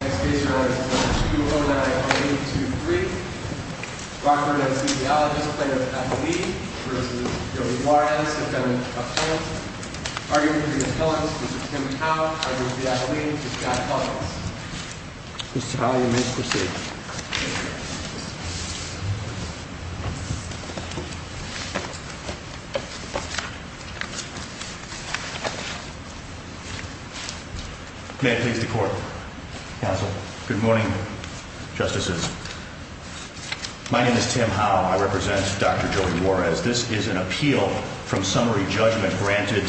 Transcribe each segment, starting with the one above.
Next case your honor is number 209-823 Rockford Anesthesiologists Plaintiff athlete v. Joey Juarez Defendant Appellant Arguing between the felons, Mr. Tim Howe, arguing with the athlete, Mr. Scott Collins Mr. Howe you may proceed May it please the court, counsel. Good morning, justices. My name is Tim Howe. I represent Dr. Joey Juarez. This is an appeal from summary judgment granted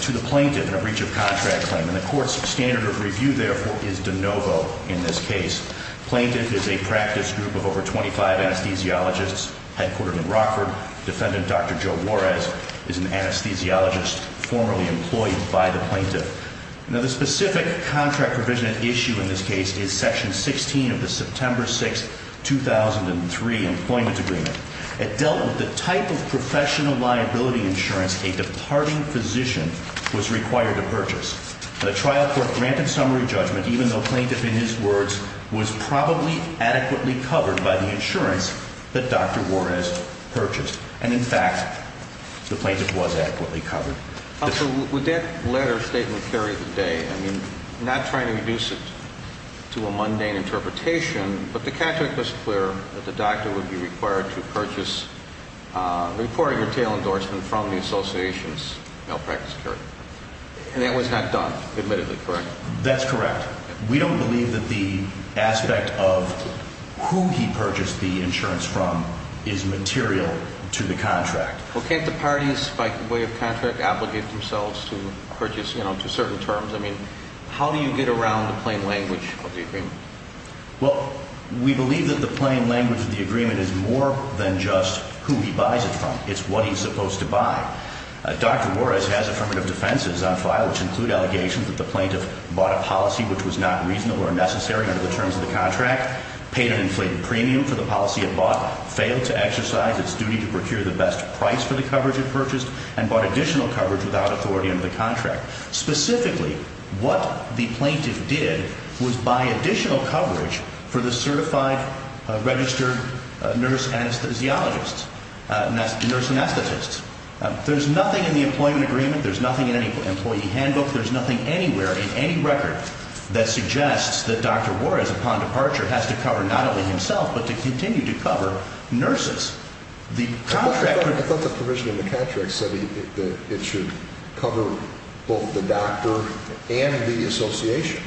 to the plaintiff in a breach of contract claim. And the court's standard of review therefore is de novo in this case. Plaintiff is a practice group of over 25 anesthesiologists headquartered in Rockford. Defendant Dr. Joe Juarez is an anesthesiologist formerly employed by the plaintiff. Now the specific contract provision at issue in this case is section 16 of the September 6, 2003 employment agreement. It dealt with the type of professional liability insurance a departing physician was required to purchase. The trial court granted summary judgment even though plaintiff in his words was probably adequately covered by the insurance that Dr. Juarez purchased. And in fact the plaintiff was adequately covered. Counsel, would that letter of statement carry the day? I mean, I'm not trying to reduce it to a mundane interpretation, but the contract was clear that the doctor would be required to purchase a reported retail endorsement from the association's malpractice carrier. And that was not done, admittedly, correct? That's correct. We don't believe that the aspect of who he purchased the insurance from is material to the contract. Well, can't the parties by way of contract obligate themselves to purchase, you know, to certain terms? I mean, how do you get around the plain language of the agreement? Well, we believe that the plain language of the agreement is more than just who he buys it from. It's what he's supposed to buy. Dr. Juarez has affirmative defenses on file which include allegations that the plaintiff bought a policy which was not reasonable or necessary under the terms of the contract, paid an inflated premium for the policy it bought, failed to exercise its duty to procure the best price for the coverage it purchased, and bought additional coverage without authority under the contract. Specifically, what the plaintiff did was buy additional coverage for the certified registered nurse anesthesiologists, nurse anesthetists. There's nothing in the employment agreement, there's nothing in any employee handbook, there's nothing anywhere in any record that suggests that Dr. Juarez, upon departure, has to cover not only himself but to continue to cover nurses. I thought the provision in the contract said it should cover both the doctor and the association.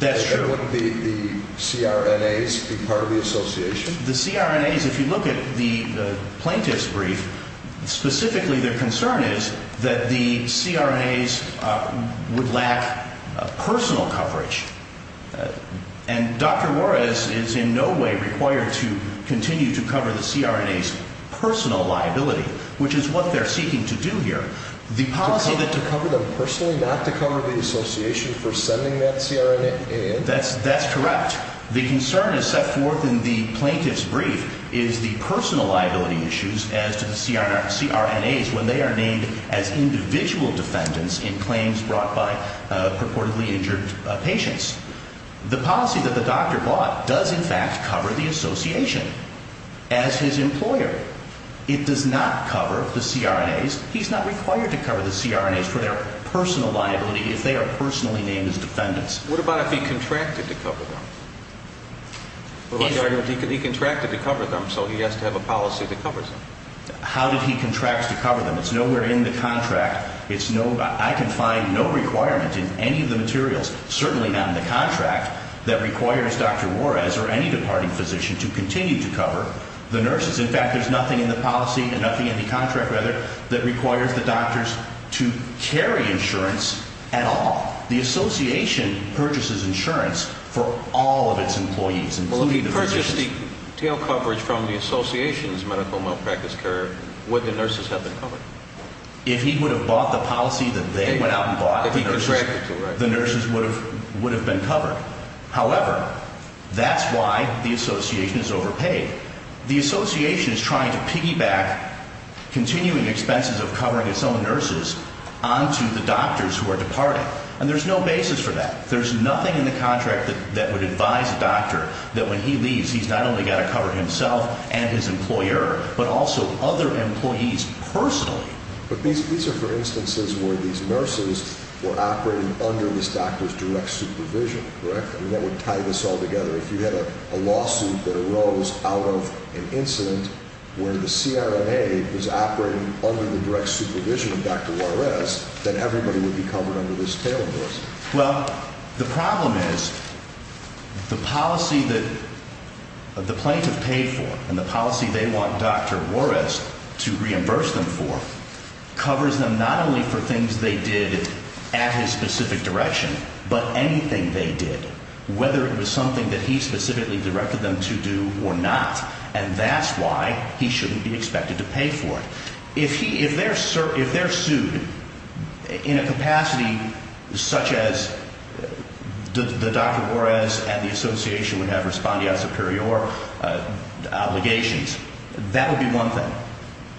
That's true. And wouldn't the CRNAs be part of the association? The CRNAs, if you look at the plaintiff's brief, specifically their concern is that the CRNAs would lack personal coverage. And Dr. Juarez is in no way required to continue to cover the CRNAs personal liability, which is what they're seeking to do here. To cover them personally, not to cover the association for sending that CRNA in? That's correct. The concern is set forth in the plaintiff's brief is the personal liability issues as to the CRNAs when they are named as individual defendants in claims brought by purportedly injured patients. The policy that the doctor bought does, in fact, cover the association as his employer. It does not cover the CRNAs. He's not required to cover the CRNAs for their personal liability if they are personally named as defendants. What about if he contracted to cover them? He contracted to cover them, so he has to have a policy that covers them. How did he contract to cover them? It's nowhere in the contract. I can find no requirement in any of the materials, certainly not in the contract, that requires Dr. Juarez or any departing physician to continue to cover the nurses. In fact, there's nothing in the policy and nothing in the contract, rather, that requires the doctors to carry insurance at all. The association purchases insurance for all of its employees, including the physicians. Well, if he purchased the tail coverage from the association's medical malpractice care, would the nurses have been covered? If he would have bought the policy that they went out and bought, the nurses would have been covered. However, that's why the association is overpaid. The association is trying to piggyback continuing expenses of covering its own nurses onto the doctors who are departing, and there's no basis for that. There's nothing in the contract that would advise a doctor that when he leaves, he's not only got to cover himself and his employer, but also other employees personally. But these are, for instance, where these nurses were operating under this doctor's direct supervision, correct? And that would tie this all together. If you had a lawsuit that arose out of an incident where the CRNA was operating under the direct supervision of Dr. Juarez, then everybody would be covered under this tail endorsement. Well, the problem is the policy that the plaintiff paid for and the policy they want Dr. Juarez to reimburse them for covers them not only for things they did at his specific direction, but anything they did, whether it was something that he specifically directed them to do or not. And that's why he shouldn't be expected to pay for it. If they're sued in a capacity such as the Dr. Juarez and the association would have respondeat superior obligations, that would be one thing.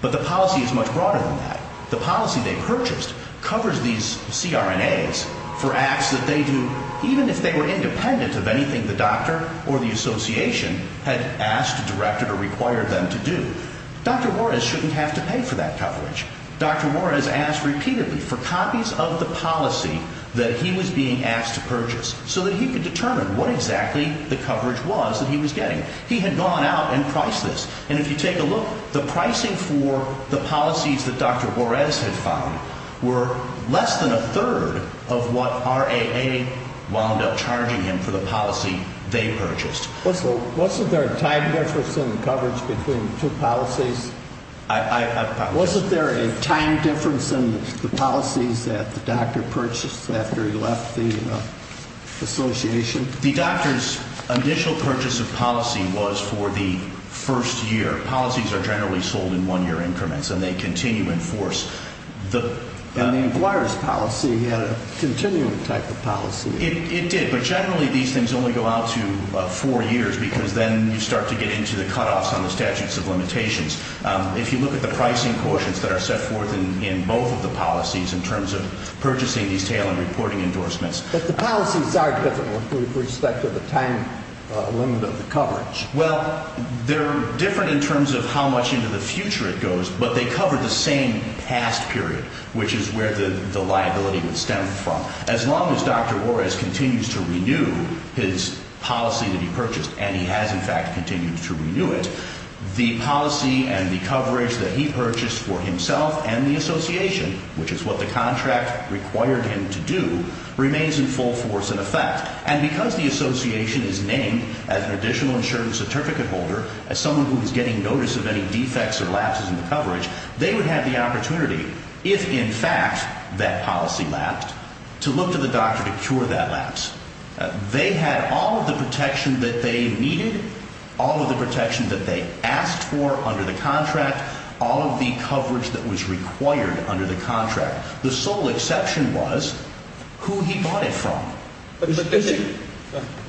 But the policy is much broader than that. The policy they purchased covers these CRNAs for acts that they do even if they were independent of anything the doctor or the association had asked, directed, or required them to do. Dr. Juarez shouldn't have to pay for that coverage. Dr. Juarez asked repeatedly for copies of the policy that he was being asked to purchase so that he could determine what exactly the coverage was that he was getting. He had gone out and priced this. And if you take a look, the pricing for the policies that Dr. Juarez had found were less than a third of what RAA wound up charging him for the policy they purchased. Wasn't there a time difference in coverage between the two policies? I apologize. Wasn't there a time difference in the policies that the doctor purchased after he left the association? The doctor's initial purchase of policy was for the first year. Policies are generally sold in one-year increments, and they continue in force. And the employer's policy had a continuing type of policy. It did, but generally these things only go out to four years because then you start to get into the cutoffs on the statutes of limitations. If you look at the pricing quotients that are set forth in both of the policies in terms of purchasing these tail-end reporting endorsements. But the policies are different with respect to the time limit of the coverage. Well, they're different in terms of how much into the future it goes, but they cover the same past period, which is where the liability would stem from. As long as Dr. Ores continues to renew his policy that he purchased, and he has in fact continued to renew it, the policy and the coverage that he purchased for himself and the association, which is what the contract required him to do, remains in full force in effect. And because the association is named as an additional insurance certificate holder, as someone who is getting notice of any defects or lapses in the coverage, they would have the opportunity, if in fact that policy lapsed, to look to the doctor to cure that lapse. They had all of the protection that they needed, all of the protection that they asked for under the contract, all of the coverage that was required under the contract. The sole exception was who he bought it from.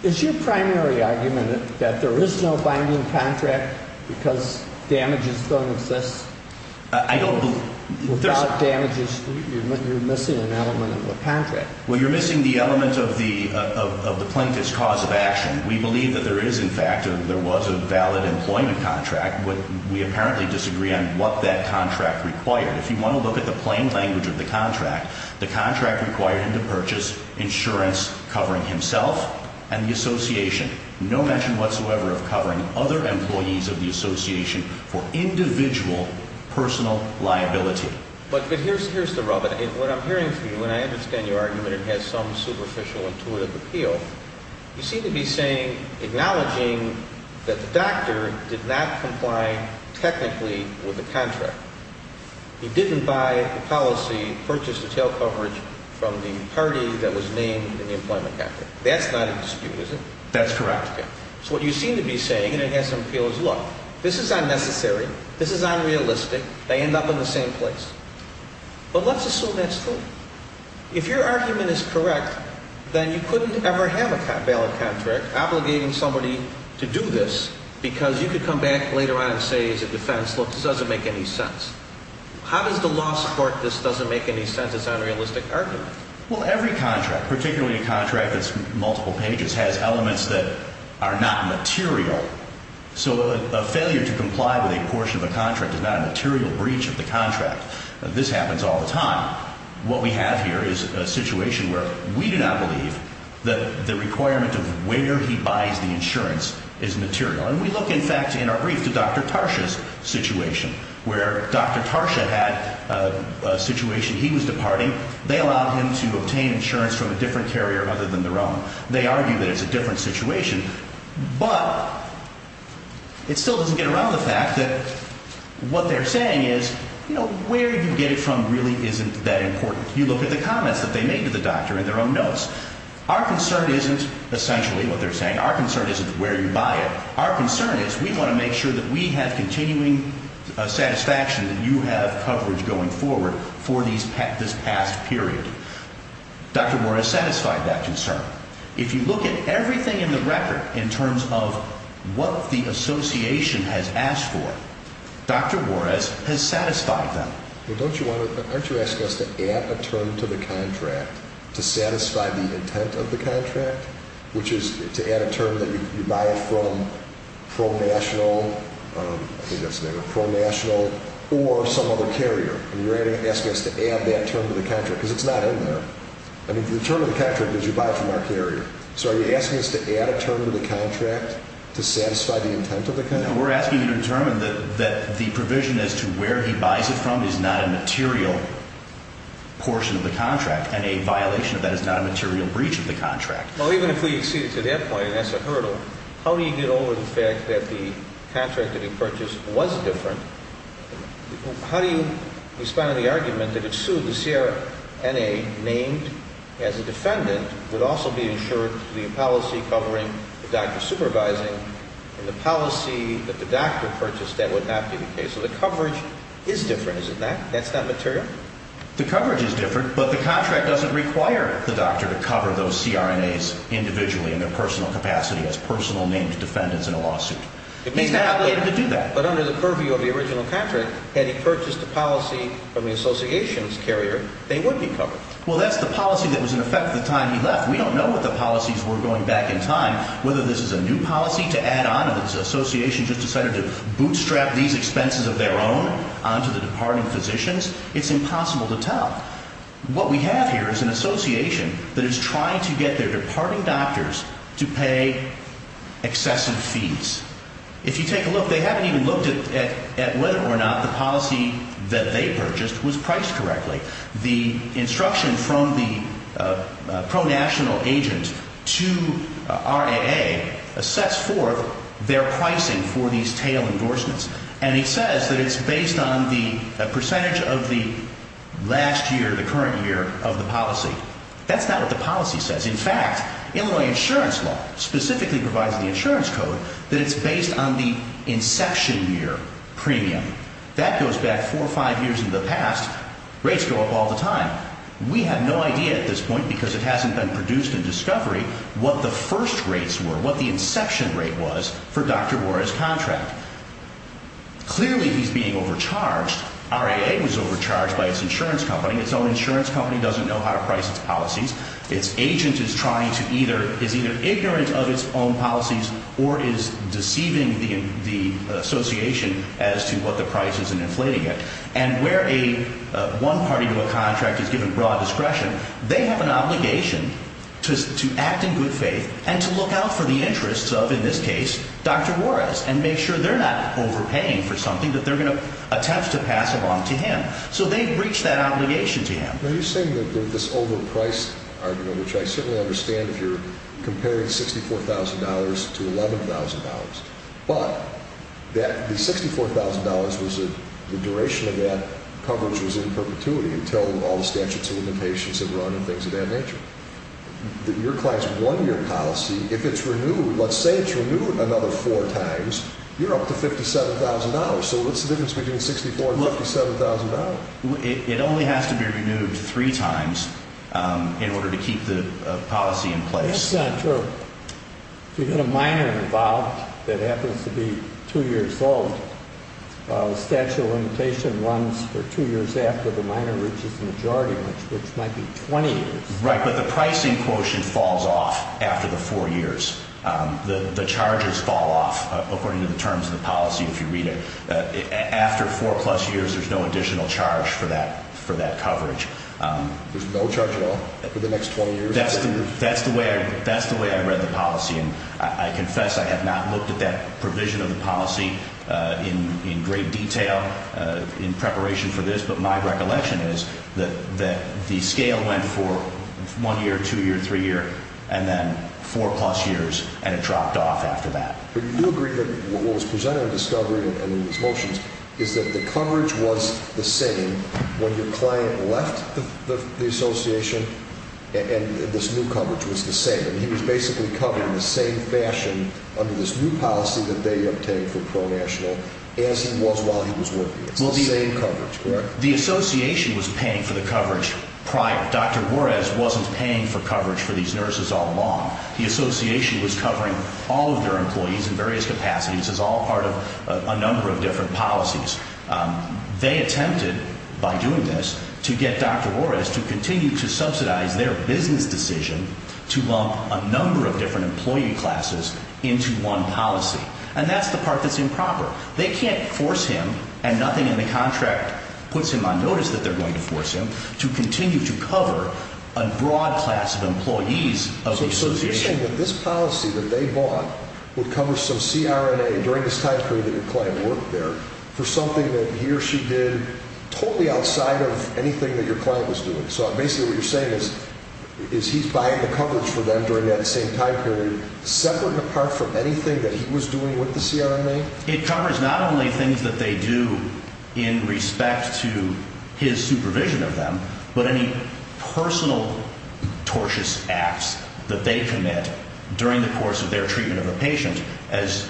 Is your primary argument that there is no binding contract because damages don't exist? I don't believe that. Without damages, you're missing an element of the contract. Well, you're missing the element of the plaintiff's cause of action. We believe that there is, in fact, there was a valid employment contract, but we apparently disagree on what that contract required. If you want to look at the plain language of the contract, the contract required him to purchase insurance covering himself and the association, no mention whatsoever of covering other employees of the association for individual personal liability. But here's the rub. What I'm hearing from you, and I understand your argument it has some superficial intuitive appeal, you seem to be saying, acknowledging that the doctor did not comply technically with the contract. He didn't buy the policy, purchase retail coverage from the party that was named in the employment contract. That's not a dispute, is it? That's correct. So what you seem to be saying, and it has some appeal, is look, this is unnecessary. This is unrealistic. They end up in the same place. But let's assume that's true. If your argument is correct, then you couldn't ever have a valid contract obligating somebody to do this because you could come back later on and say as a defense, look, this doesn't make any sense. How does the law support this doesn't make any sense? It's an unrealistic argument. Well, every contract, particularly a contract that's multiple pages, has elements that are not material. So a failure to comply with a portion of a contract is not a material breach of the contract. This happens all the time. What we have here is a situation where we do not believe that the requirement of where he buys the insurance is material. And we look, in fact, in our brief to Dr. Tarsha's situation where Dr. Tarsha had a situation. He was departing. They allowed him to obtain insurance from a different carrier other than their own. They argue that it's a different situation. But it still doesn't get around the fact that what they're saying is, you know, where you get it from really isn't that important. You look at the comments that they made to the doctor in their own notes. Our concern isn't essentially what they're saying. Our concern isn't where you buy it. Our concern is we want to make sure that we have continuing satisfaction that you have coverage going forward for this past period. Dr. Moore has satisfied that concern. If you look at everything in the record in terms of what the association has asked for, Dr. Moore has satisfied them. Well, don't you want to – aren't you asking us to add a term to the contract to satisfy the intent of the contract, which is to add a term that you buy it from Pro National – I think that's the name of it – Pro National or some other carrier? And you're asking us to add that term to the contract because it's not in there. I mean, the term of the contract is you buy it from our carrier. So are you asking us to add a term to the contract to satisfy the intent of the contract? No, we're asking you to determine that the provision as to where he buys it from is not a material portion of the contract and a violation of that is not a material breach of the contract. Well, even if we exceed it to that point and that's a hurdle, how do you get over the fact that the contract that he purchased was different? How do you respond to the argument that if sued, the CRNA named as a defendant would also be insured to the policy covering the doctor supervising and the policy that the doctor purchased that would not be the case? So the coverage is different, is it not? That's not material? The coverage is different, but the contract doesn't require the doctor to cover those CRNAs individually in their personal capacity as personal named defendants in a lawsuit. But under the purview of the original contract, had he purchased the policy from the association's carrier, they would be covered. Well, that's the policy that was in effect the time he left. We don't know what the policies were going back in time, whether this is a new policy to add on or this association just decided to bootstrap these expenses of their own onto the departing physicians. It's impossible to tell. What we have here is an association that is trying to get their departing doctors to pay excessive fees. If you take a look, they haven't even looked at whether or not the policy that they purchased was priced correctly. The instruction from the pronational agent to RAA sets forth their pricing for these tail endorsements. And it says that it's based on the percentage of the last year, the current year of the policy. That's not what the policy says. In fact, Illinois insurance law specifically provides in the insurance code that it's based on the inception year premium. That goes back four or five years in the past. Rates go up all the time. We have no idea at this point because it hasn't been produced in discovery what the first rates were, what the inception rate was for Dr. Warren's contract. Clearly he's being overcharged. RAA was overcharged by its insurance company. Its own insurance company doesn't know how to price its policies. Its agent is either ignorant of its own policies or is deceiving the association as to what the price is in inflating it. And where a one-party to a contract is given broad discretion, they have an obligation to act in good faith and to look out for the interests of, in this case, Dr. Warren and make sure they're not overpaying for something that they're going to attempt to pass along to him. So they've reached that obligation to him. Now you're saying that this overpriced argument, which I certainly understand if you're comparing $64,000 to $11,000, but the $64,000, the duration of that coverage was in perpetuity until all the statutes and limitations have run and things of that nature. Your class one-year policy, if it's renewed, let's say it's renewed another four times, you're up to $57,000. So what's the difference between $64,000 and $57,000? It only has to be renewed three times in order to keep the policy in place. That's not true. If you had a minor involved that happens to be two years old, the statute of limitations runs for two years after the minor reaches the majority, which might be 20 years. Right, but the pricing quotient falls off after the four years. The charges fall off according to the terms of the policy if you read it. After four-plus years, there's no additional charge for that coverage. There's no charge at all for the next 20 years? That's the way I read the policy, and I confess I have not looked at that provision of the policy in great detail in preparation for this, but my recollection is that the scale went for one year, two years, three years, and then four-plus years, and it dropped off after that. Do you agree that what was presented in Discovery and in these motions is that the coverage was the same when your client left the association and this new coverage was the same? He was basically covered in the same fashion under this new policy that they obtained for pro-national as he was while he was working. It's the same coverage, correct? The association was paying for the coverage prior. Dr. Juarez wasn't paying for coverage for these nurses all along. The association was covering all of their employees in various capacities. This is all part of a number of different policies. They attempted, by doing this, to get Dr. Juarez to continue to subsidize their business decision to bump a number of different employee classes into one policy, and that's the part that's improper. They can't force him, and nothing in the contract puts him on notice that they're going to force him, to continue to cover a broad class of employees of the association. So you're saying that this policy that they bought would cover some CRNA during this time period that your client worked there for something that he or she did totally outside of anything that your client was doing. So basically what you're saying is he's buying the coverage for them during that same time period, separate and apart from anything that he was doing with the CRNA? It covers not only things that they do in respect to his supervision of them, but any personal tortious acts that they commit during the course of their treatment of a patient, as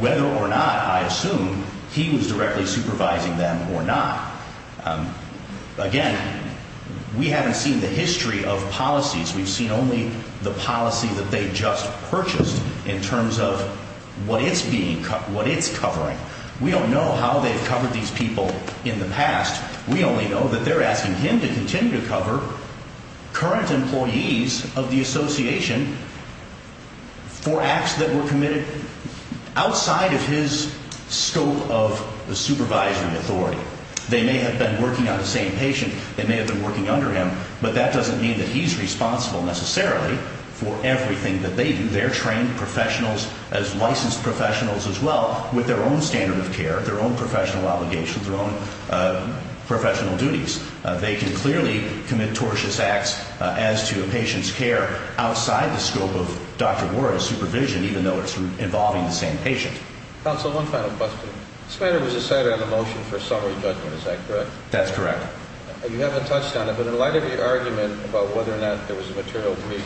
whether or not, I assume, he was directly supervising them or not. Again, we haven't seen the history of policies. We've seen only the policy that they just purchased in terms of what it's covering. We don't know how they've covered these people in the past. We only know that they're asking him to continue to cover current employees of the association for acts that were committed outside of his scope of the supervisory authority. They may have been working on the same patient. They may have been working under him, but that doesn't mean that he's responsible necessarily for everything that they do. They're trained professionals as licensed professionals as well with their own standard of care, their own professional obligations, their own professional duties. They can clearly commit tortious acts as to a patient's care outside the scope of Dr. Warren's supervision, even though it's involving the same patient. Counsel, one final question. This matter was decided on a motion for summary judgment. Is that correct? That's correct. You haven't touched on it, but in light of your argument about whether or not there was a material breach,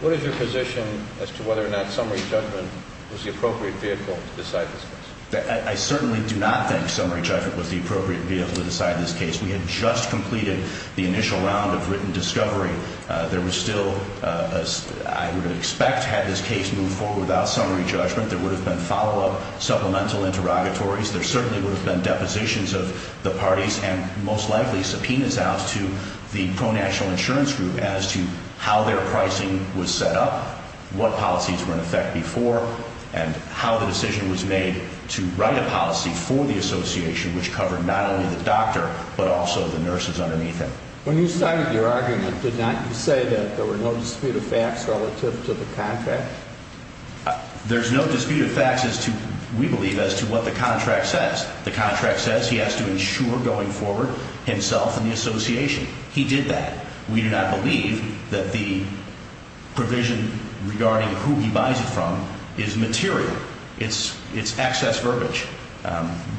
what is your position as to whether or not summary judgment was the appropriate vehicle to decide this case? I certainly do not think summary judgment was the appropriate vehicle to decide this case. We had just completed the initial round of written discovery. There was still, I would expect, had this case moved forward without summary judgment, there would have been follow-up supplemental interrogatories. There certainly would have been depositions of the parties and most likely subpoenas out to the pro-national insurance group as to how their pricing was set up, what policies were in effect before, and how the decision was made to write a policy for the association which covered not only the doctor but also the nurses underneath him. When you started your argument, did not you say that there were no disputed facts relative to the contract? There's no disputed facts, we believe, as to what the contract says. The contract says he has to insure going forward himself and the association. He did that. We do not believe that the provision regarding who he buys it from is material. It's excess verbiage.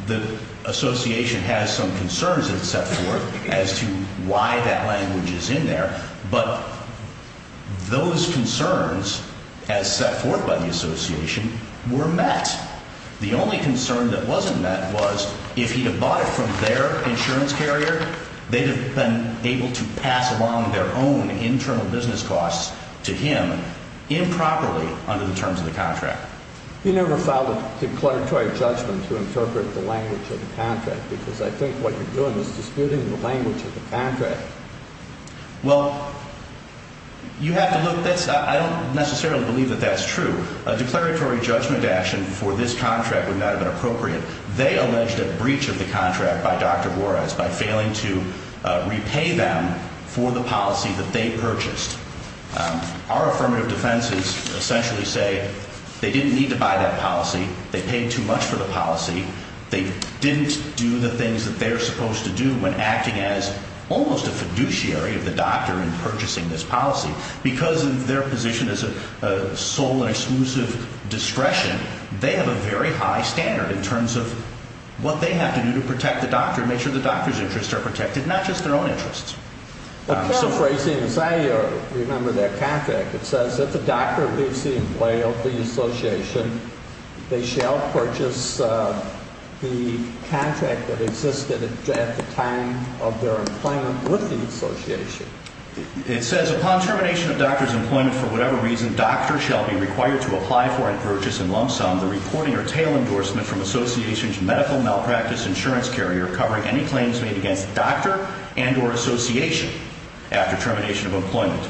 The association has some concerns that it set forth as to why that language is in there, but those concerns, as set forth by the association, were met. The only concern that wasn't met was if he'd have bought it from their insurance carrier, they'd have been able to pass along their own internal business costs to him improperly under the terms of the contract. You never filed a declaratory judgment to interpret the language of the contract because I think what you're doing is disputing the language of the contract. Well, you have to look at this. I don't necessarily believe that that's true. A declaratory judgment action for this contract would not have been appropriate. They alleged a breach of the contract by Dr. Juarez by failing to repay them for the policy that they purchased. Our affirmative defenses essentially say they didn't need to buy that policy. They paid too much for the policy. They didn't do the things that they're supposed to do when acting as almost a fiduciary of the doctor in purchasing this policy. Because of their position as a sole and exclusive discretion, they have a very high standard in terms of what they have to do to protect the doctor and make sure the doctor's interests are protected, not just their own interests. A paraphrasing is I remember that contract. It says if the doctor leaves the employee of the association, they shall purchase the contract that existed at the time of their employment with the association. It says upon termination of doctor's employment for whatever reason, doctor shall be required to apply for and purchase in lump sum the reporting or tail endorsement from association's medical malpractice insurance carrier covering any claims made against doctor and or association after termination of employment.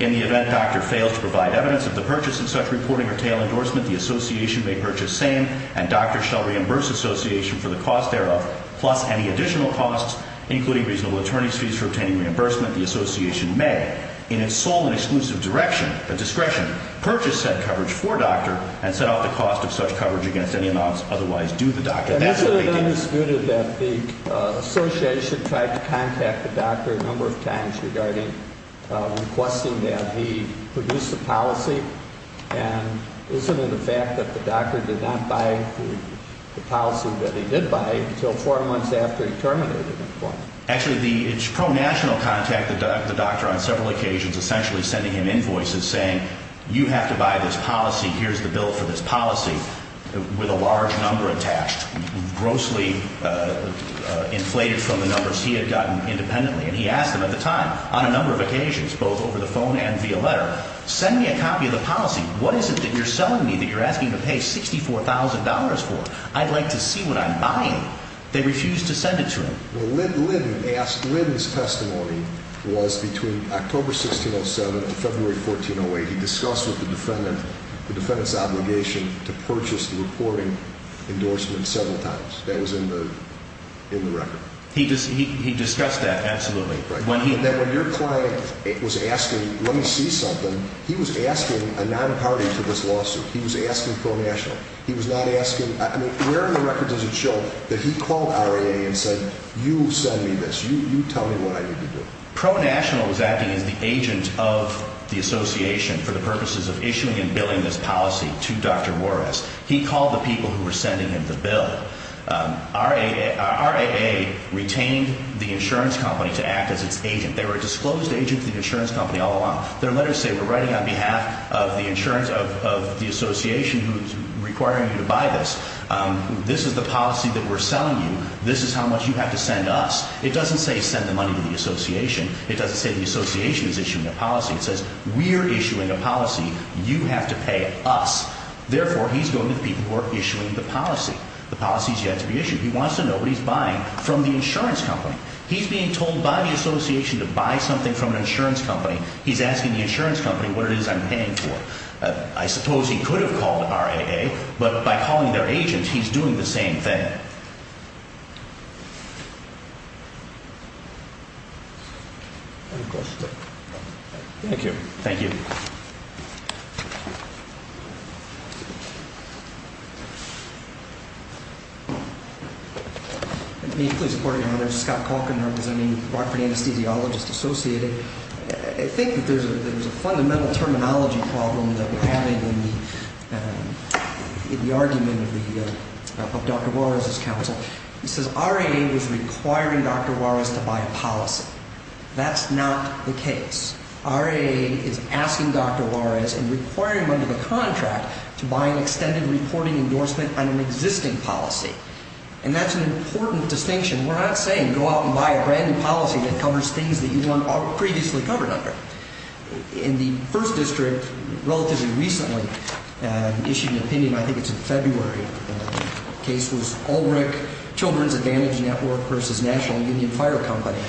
In the event doctor fails to provide evidence of the purchase of such reporting or tail endorsement, the association may purchase same and doctor shall reimburse association for the cost thereof plus any additional costs including reasonable attorney's fees for obtaining reimbursement. The association may, in its sole and exclusive direction, but discretion, purchase said coverage for doctor and set out the cost of such coverage against any amounts otherwise due the doctor. And isn't it undisputed that the association tried to contact the doctor a number of times regarding requesting that he produce a policy? And isn't it a fact that the doctor did not buy the policy that he did buy until four months after he terminated employment? Actually, it's pro-national contact the doctor on several occasions, essentially sending him invoices saying you have to buy this policy, here's the bill for this policy with a large number attached, grossly inflated from the numbers he had gotten independently. And he asked him at the time on a number of occasions, both over the phone and via letter, send me a copy of the policy. What is it that you're selling me that you're asking to pay $64,000 for? I'd like to see what I'm buying. They refused to send it to him. Well, Lynn asked, Lynn's testimony was between October 1607 and February 1408. He discussed with the defendant the defendant's obligation to purchase the reporting endorsement several times. That was in the record. He discussed that, absolutely. But then when your client was asking, let me see something, he was asking a non-party to this lawsuit. He was asking pro-national. He was not asking, I mean, where in the records does it show that he called RAA and said, you send me this, you tell me what I need to do? Pro-national was acting as the agent of the association for the purposes of issuing and billing this policy to Dr. Juarez. He called the people who were sending him the bill. RAA retained the insurance company to act as its agent. They were a disclosed agent to the insurance company all along. Their letters say, we're writing on behalf of the insurance, of the association who's requiring you to buy this. This is the policy that we're selling you. This is how much you have to send us. It doesn't say send the money to the association. It doesn't say the association is issuing a policy. It says, we're issuing a policy. You have to pay us. Therefore, he's going to the people who are issuing the policy. The policy has yet to be issued. He wants to know what he's buying from the insurance company. He's being told by the association to buy something from an insurance company. He's asking the insurance company what it is I'm paying for. I suppose he could have called RAA, but by calling their agent, he's doing the same thing. Any questions? Thank you. Thank you. May I please report again? My name is Scott Calkin. I'm representing Rockford Anesthesiologist Associated. I think that there's a fundamental terminology problem that we're having in the argument of Dr. Juarez's counsel. He says RAA was requiring Dr. Juarez to buy a policy. That's not the case. RAA is asking Dr. Juarez and requiring under the contract to buy an extended reporting endorsement on an existing policy. And that's an important distinction. We're not saying go out and buy a brand new policy that covers things that you weren't previously covered under. In the first district, relatively recently, issued an opinion, I think it's in February, the case was Ulbrich Children's Advantage Network versus National Union Fire Company.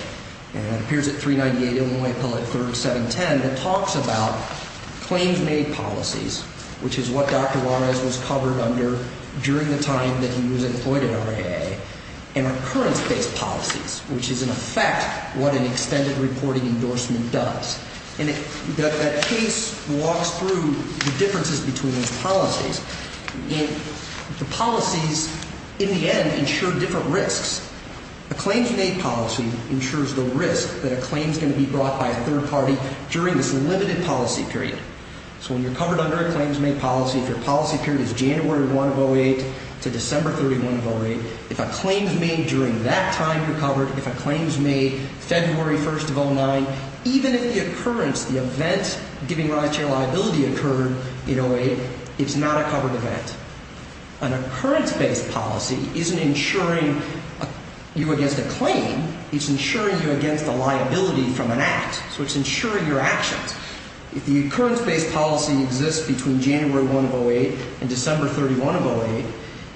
It appears at 398 Illinois Appellate 3rd, 710. It talks about claims made policies, which is what Dr. Juarez was covered under during the time that he was employed at RAA, and recurrence-based policies, which is, in effect, what an extended reporting endorsement does. And that case walks through the differences between those policies. And the policies, in the end, ensure different risks. A claims-made policy ensures the risk that a claim's going to be brought by a third party during this limited policy period. So when you're covered under a claims-made policy, if your policy period is January 1 of 08 to December 31 of 08, if a claim's made during that time you're covered, if a claim's made February 1 of 09, even if the occurrence, the event giving rise to your liability occurred in 08, it's not a covered event. An occurrence-based policy isn't insuring you against a claim. It's insuring you against a liability from an act. So it's insuring your actions. If the occurrence-based policy exists between January 1 of 08 and December 31 of 08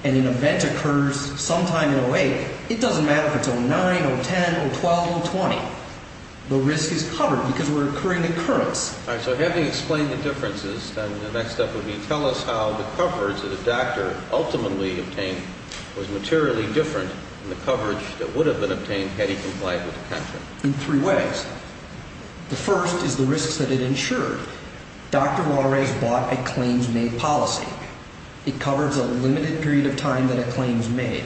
and an event occurs sometime in 08, it doesn't matter if it's 09, 010, 012, 020. The risk is covered because we're incurring occurrence. All right. So having explained the differences, then the next step would be tell us how the coverage that a doctor ultimately obtained was materially different than the coverage that would have been obtained had he complied with the contract. In three ways. The first is the risks that it insured. Dr. Walrais bought a claims-made policy. It covers a limited period of time that a claim's made.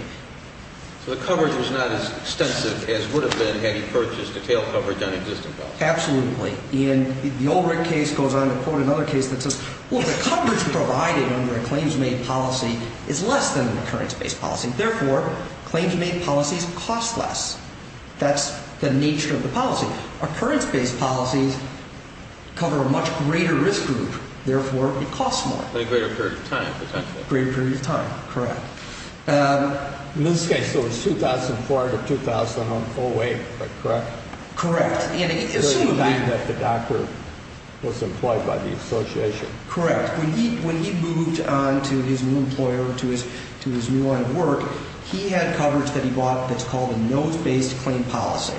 So the coverage was not as extensive as would have been had he purchased a tail coverage on existing coverage. Absolutely. And the old Rick case goes on to quote another case that says, well, the coverage provided under a claims-made policy is less than an occurrence-based policy. Therefore, claims-made policies cost less. That's the nature of the policy. Occurrence-based policies cover a much greater risk group. Therefore, it costs more. A greater period of time, potentially. A greater period of time. Correct. In this case, it was 2004 to 2008, correct? Correct. Assuming that the doctor was employed by the association. Correct. When he moved on to his new employer, to his new line of work, he had coverage that he bought that's called a notes-based claim policy.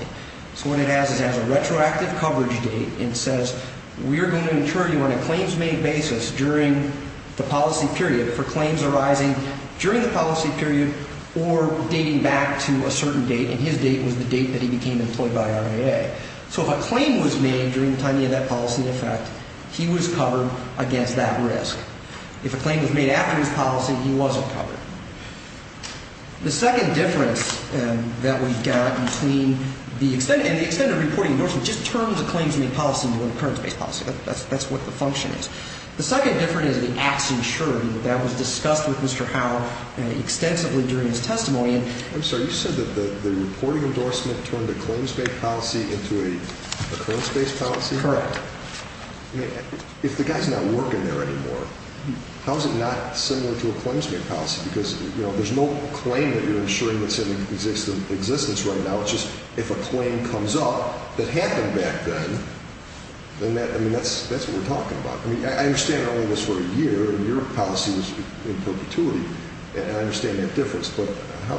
So what it has is it has a retroactive coverage date, and it says, we are going to insure you on a claims-made basis during the policy period for claims arising during the policy period or dating back to a certain date, and his date was the date that he became employed by RIA. So if a claim was made during the time you had that policy in effect, he was covered against that risk. If a claim was made after his policy, he wasn't covered. The second difference that we've got between the extended reporting endorsement just turns a claims-made policy into a claims-based policy. That's what the function is. The second difference is the acts insured. That was discussed with Mr. Howell extensively during his testimony. I'm sorry. You said that the reporting endorsement turned a claims-made policy into a claims-based policy? Correct. If the guy's not working there anymore, how is it not similar to a claims-made policy because, you know, there's no claim that you're insuring that's in existence right now. It's just if a claim comes up that happened back then, then that's what we're talking about. I mean, I understand it only was for a year, and your policy was in perpetuity, and I understand that difference, but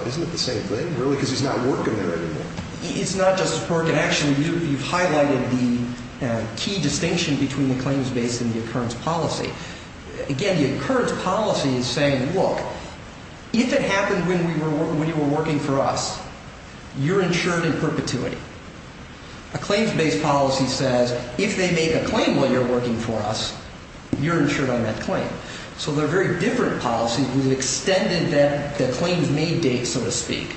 isn't it the same thing, really? Because he's not working there anymore. It's not, Justice Bork, and actually you've highlighted the key distinction between the claims-based and the occurrence policy. Again, the occurrence policy is saying, look, if it happened when you were working for us, you're insured in perpetuity. A claims-based policy says if they make a claim while you're working for us, you're insured on that claim. So they're very different policies. We've extended the claims-made date, so to speak,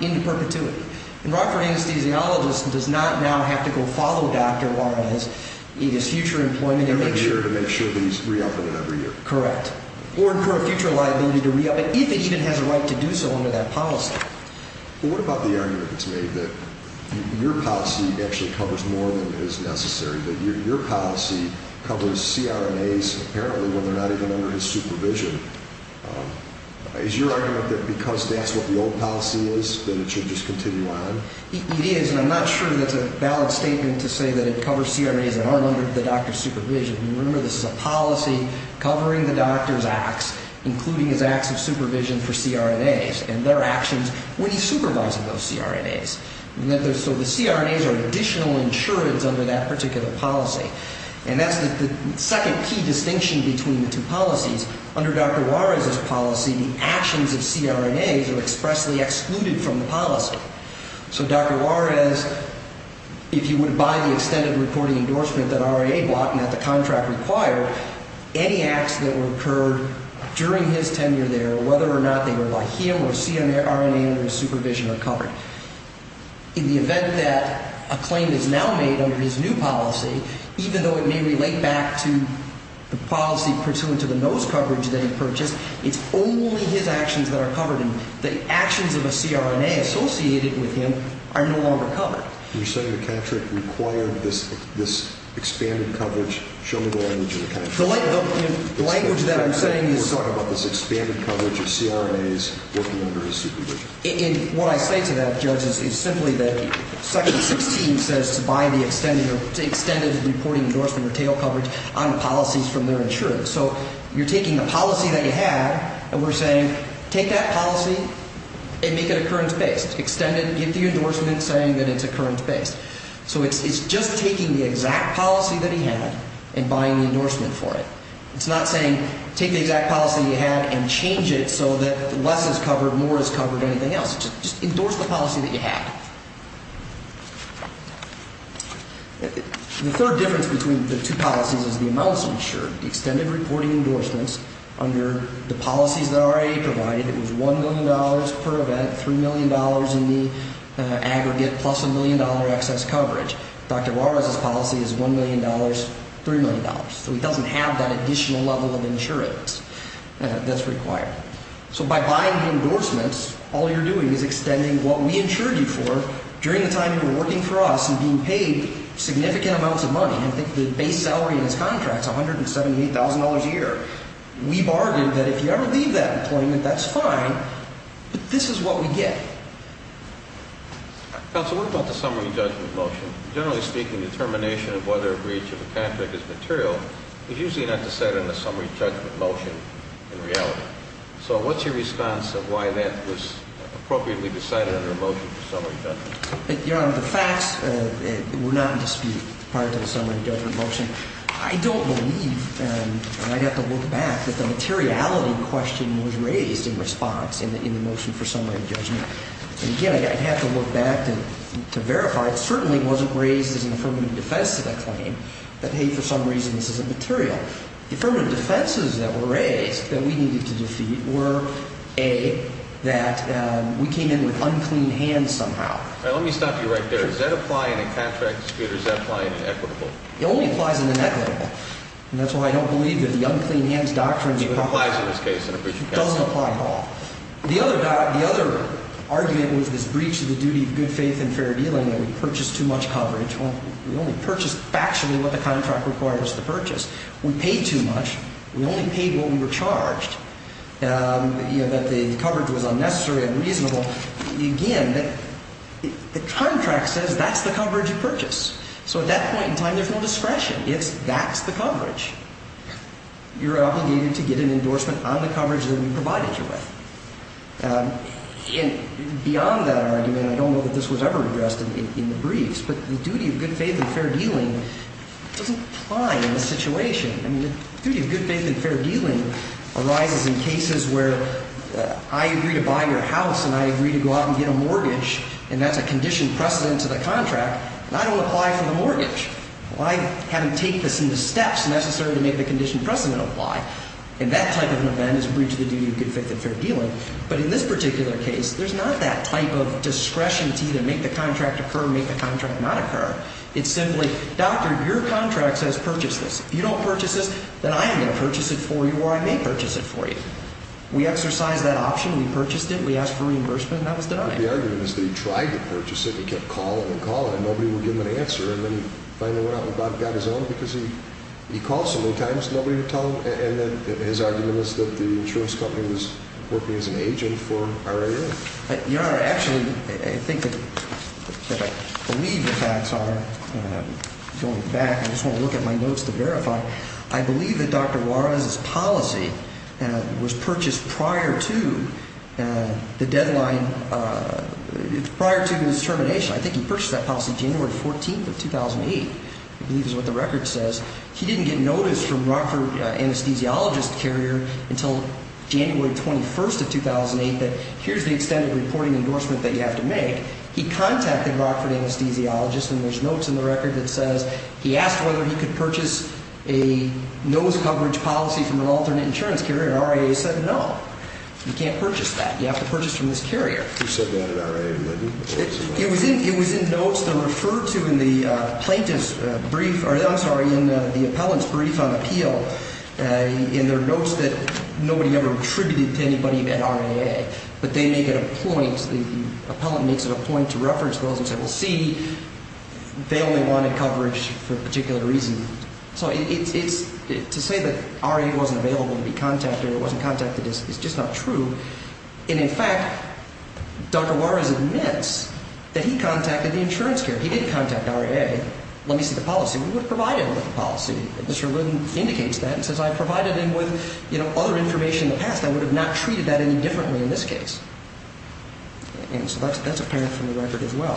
into perpetuity. And Rockford anesthesiologist does not now have to go follow Dr. Warren in his future employment to make sure that he's re-upping it every year. Correct. Or incur a future liability to re-up it, if it even has a right to do so under that policy. But what about the argument that's made that your policy actually covers more than is necessary, that your policy covers CRNAs apparently when they're not even under his supervision? Is your argument that because that's what the old policy is, then it should just continue on? It is, and I'm not sure that's a valid statement to say that it covers CRNAs that aren't under the doctor's supervision. Remember, this is a policy covering the doctor's acts, including his acts of supervision for CRNAs and their actions when he's supervising those CRNAs. So the CRNAs are additional insurance under that particular policy. And that's the second key distinction between the two policies. Under Dr. Juarez's policy, the actions of CRNAs are expressly excluded from the policy. So Dr. Juarez, if he would abide the extended reporting endorsement that RIA bought and that the contract required, any acts that were incurred during his tenure there, whether or not they were by him or CRNA under his supervision, are covered. In the event that a claim is now made under his new policy, even though it may relate back to the policy pursuant to the NOS coverage that he purchased, it's only his actions that are covered, and the actions of a CRNA associated with him are no longer covered. You're saying the contract required this expanded coverage? Show me the language of the contract. The language that I'm saying is... You're talking about this expanded coverage of CRNAs working under his supervision. And what I say to that, Judge, is simply that Section 16 says to buy the extended reporting endorsement or tail coverage on policies from their insurance. So you're taking a policy that he had, and we're saying take that policy and make it occurrence-based. Extend it, give the endorsement, saying that it's occurrence-based. So it's just taking the exact policy that he had and buying the endorsement for it. It's not saying take the exact policy that he had and change it so that less is covered, or anything else, just endorse the policy that you have. The third difference between the two policies is the amounts insured. The extended reporting endorsements under the policies that RIA provided, it was $1 million per event, $3 million in the aggregate, plus $1 million excess coverage. Dr. Juarez's policy is $1 million, $3 million. So he doesn't have that additional level of insurance that's required. So by buying the endorsements, all you're doing is extending what we insured you for during the time you were working for us and being paid significant amounts of money. I think the base salary in his contract is $178,000 a year. We bargained that if you ever leave that employment, that's fine, but this is what we get. Counsel, what about the summary judgment motion? Generally speaking, determination of whether a breach of a contract is material is usually not decided in a summary judgment motion in reality. So what's your response of why that was appropriately decided under a motion for summary judgment? Your Honor, the facts were not in dispute prior to the summary judgment motion. I don't believe, and I'd have to look back, that the materiality question was raised in response in the motion for summary judgment. Again, I'd have to look back to verify. It certainly wasn't raised as an affirmative defense to that claim that, hey, for some reason this isn't material. The affirmative defenses that were raised that we needed to defeat were, A, that we came in with unclean hands somehow. All right. Let me stop you right there. Does that apply in a contract dispute or does that apply in an equitable? It only applies in an equitable, and that's why I don't believe that the unclean hands doctrine would apply. So it applies in this case in a breach of contract. It doesn't apply at all. The other argument was this breach of the duty of good faith and fair dealing that we purchased too much coverage. We only purchased factually what the contract required us to purchase. We paid too much. We only paid what we were charged, that the coverage was unnecessary and unreasonable. Again, the contract says that's the coverage you purchase. So at that point in time, there's no discretion. It's that's the coverage. You're obligated to get an endorsement on the coverage that we provided you with. And beyond that argument, I don't know that this was ever addressed in the briefs, but the duty of good faith and fair dealing doesn't apply in this situation. I mean, the duty of good faith and fair dealing arises in cases where I agree to buy your house and I agree to go out and get a mortgage, and that's a conditioned precedent to the contract, and I don't apply for the mortgage. Why have them take this into steps necessary to make the conditioned precedent apply? And that type of an event is a breach of the duty of good faith and fair dealing. But in this particular case, there's not that type of discretion to either make the contract occur or make the contract not occur. It's simply, doctor, your contract says purchase this. If you don't purchase this, then I am going to purchase it for you or I may purchase it for you. We exercised that option. We purchased it. We asked for reimbursement, and that was denied. The argument is that he tried to purchase it and kept calling and calling, and nobody would give him an answer. And then he finally went out and got his own because he called so many times, nobody would tell him. And his argument is that the insurance company was working as an agent for RIA. Your Honor, actually, I think that I believe the facts are going back. I just want to look at my notes to verify. I believe that Dr. Juarez's policy was purchased prior to the deadline, prior to his termination. I think he purchased that policy January 14th of 2008, I believe is what the record says. He didn't get notice from Rockford anesthesiologist carrier until January 21st of 2008 that here's the extended reporting endorsement that you have to make. He contacted Rockford anesthesiologist, and there's notes in the record that says he asked whether he could purchase a nose coverage policy from an alternate insurance carrier. RIA said no, you can't purchase that. You have to purchase from this carrier. Who said that at RIA, Lyndon? It was in notes that were referred to in the plaintiff's brief, or I'm sorry, in the appellant's brief on appeal, in their notes that nobody ever attributed to anybody at RIA. But they make it a point, the appellant makes it a point to reference those and say, well, see, they only wanted coverage for a particular reason. So to say that RIA wasn't available to be contacted or wasn't contacted is just not true. And, in fact, Dr. Juarez admits that he contacted the insurance carrier. He didn't contact RIA. Let me see the policy. We would have provided him with the policy. Mr. Lyndon indicates that and says I provided him with, you know, other information in the past. I would have not treated that any differently in this case. And so that's apparent from the record as well.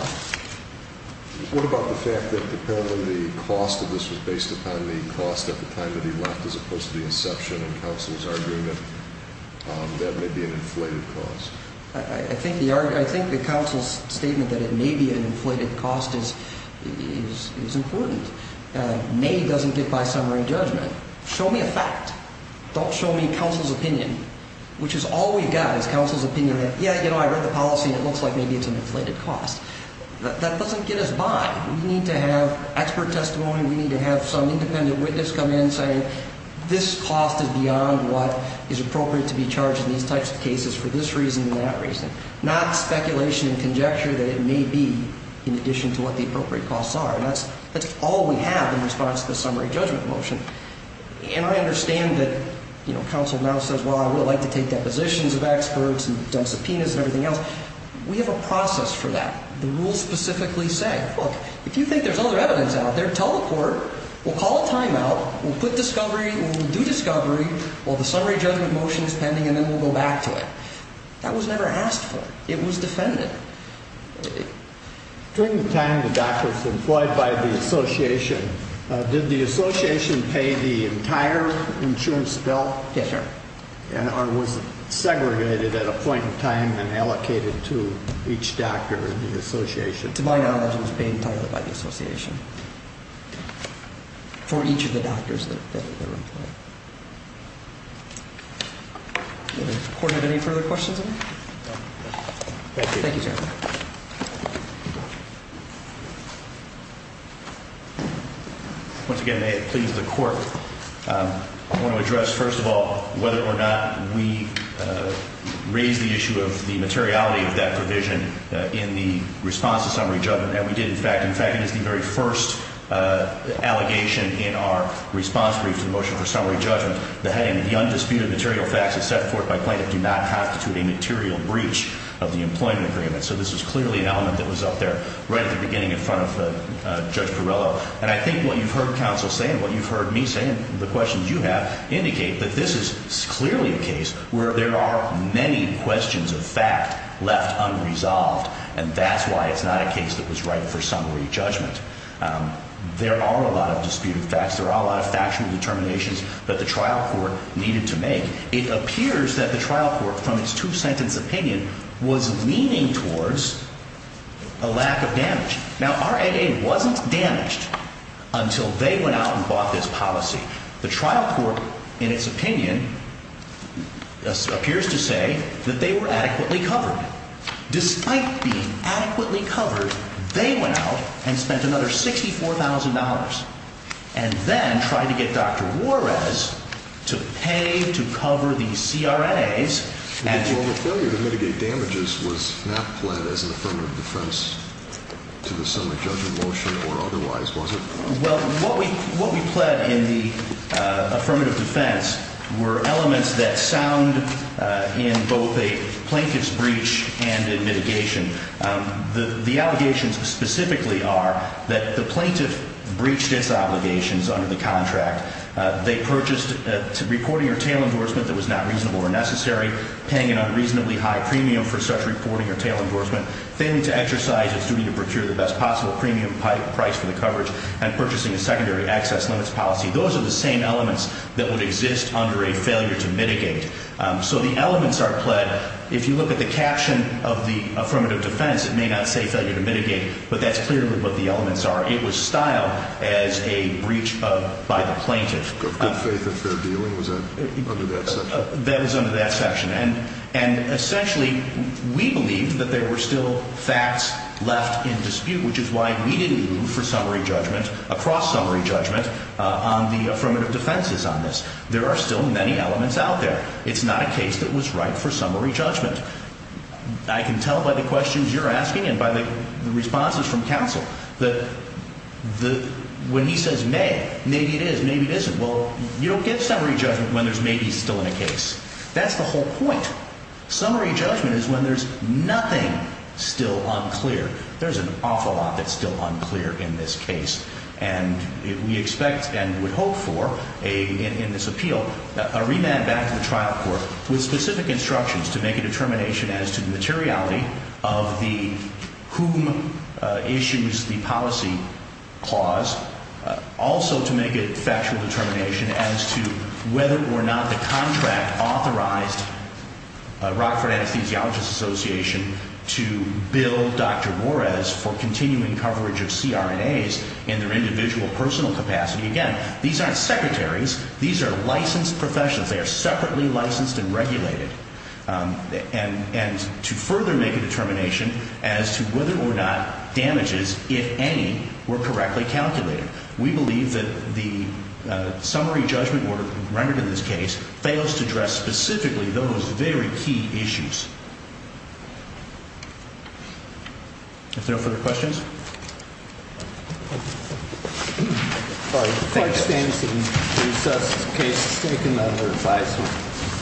What about the fact that the appellant, the cost of this was based upon the cost at the time that he left as opposed to the inception and counsel's argument that it may be an inflated cost? I think the counsel's statement that it may be an inflated cost is important. May doesn't get by summary judgment. Show me a fact. Don't show me counsel's opinion, which is all we've got is counsel's opinion that, yeah, you know, I read the policy. It looks like maybe it's an inflated cost. That doesn't get us by. We need to have expert testimony. We need to have some independent witness come in and say this cost is beyond what is appropriate to be charged in these types of cases for this reason and that reason, not speculation and conjecture that it may be in addition to what the appropriate costs are. That's all we have in response to the summary judgment motion. And I understand that, you know, counsel now says, well, I would like to take depositions of experts and subpoenas and everything else. We have a process for that. The rules specifically say, look, if you think there's other evidence out there, tell the court. We'll call a timeout. We'll put discovery. We'll do discovery. Well, the summary judgment motion is pending, and then we'll go back to it. That was never asked for. It was defended. During the time the doctor was employed by the association, did the association pay the entire insurance bill? Yes, sir. Or was it segregated at a point in time and allocated to each doctor in the association? To my knowledge, it was paid entirely by the association for each of the doctors that were employed. Does the court have any further questions? No. Thank you. Thank you, sir. Once again, may it please the court, I want to address, first of all, whether or not we raise the issue of the materiality of that provision in the response to summary judgment. And we did, in fact. In fact, it is the very first allegation in our response brief to the motion for summary judgment. The heading, the undisputed material facts as set forth by plaintiff do not constitute a material breach of the employment agreement. So this is clearly an element that was up there right at the beginning in front of Judge Perrello. And I think what you've heard counsel say and what you've heard me say and the questions you have indicate that this is clearly a case where there are many questions of fact left unresolved. And that's why it's not a case that was right for summary judgment. There are a lot of disputed facts. There are a lot of factual determinations that the trial court needed to make. It appears that the trial court, from its two-sentence opinion, was leaning towards a lack of damage. Now, our aid wasn't damaged until they went out and bought this policy. The trial court, in its opinion, appears to say that they were adequately covered. Despite being adequately covered, they went out and spent another $64,000 and then tried to get Dr. Juarez to pay to cover these CRNAs. Well, the failure to mitigate damages was not pled as an affirmative defense to the summary judgment motion or otherwise, was it? Well, what we pled in the affirmative defense were elements that sound in both a plaintiff's breach and in mitigation. The allegations specifically are that the plaintiff breached its obligations under the contract. They purchased reporting or tail endorsement that was not reasonable or necessary, paying an unreasonably high premium for such reporting or tail endorsement, failing to exercise its duty to procure the best possible premium price for the coverage, and purchasing a secondary access limits policy. Those are the same elements that would exist under a failure to mitigate. So the elements are pled. If you look at the caption of the affirmative defense, it may not say failure to mitigate, but that's clearly what the elements are. It was styled as a breach by the plaintiff. Good faith and fair dealing was under that section. That was under that section. And essentially, we believe that there were still facts left in dispute, which is why we didn't move for summary judgment, across summary judgment, on the affirmative defenses on this. There are still many elements out there. It's not a case that was right for summary judgment. I can tell by the questions you're asking and by the responses from counsel that when he says may, maybe it is, maybe it isn't. Well, you don't get summary judgment when there's maybe still in a case. That's the whole point. Summary judgment is when there's nothing still unclear. There's an awful lot that's still unclear in this case. And we expect and would hope for in this appeal a remand back to the trial court with specific instructions to make a determination as to the materiality of whom issues the policy clause, also to make a factual determination as to whether or not the contract authorized Rockford Anesthesiologist Association to bill Dr. Moraes for continuing coverage of CRNAs in their individual personal capacity. Again, these aren't secretaries. These are licensed professionals. They are separately licensed and regulated. And to further make a determination as to whether or not damages, if any, were correctly calculated. We believe that the summary judgment rendered in this case fails to address specifically those very key issues. If there are no further questions. Thank you. Thank you. All right. Thank you. Thank you. Thank you. Thank you. Thank you. Thank you. Thank you. Thank you. Thank you. Thank you.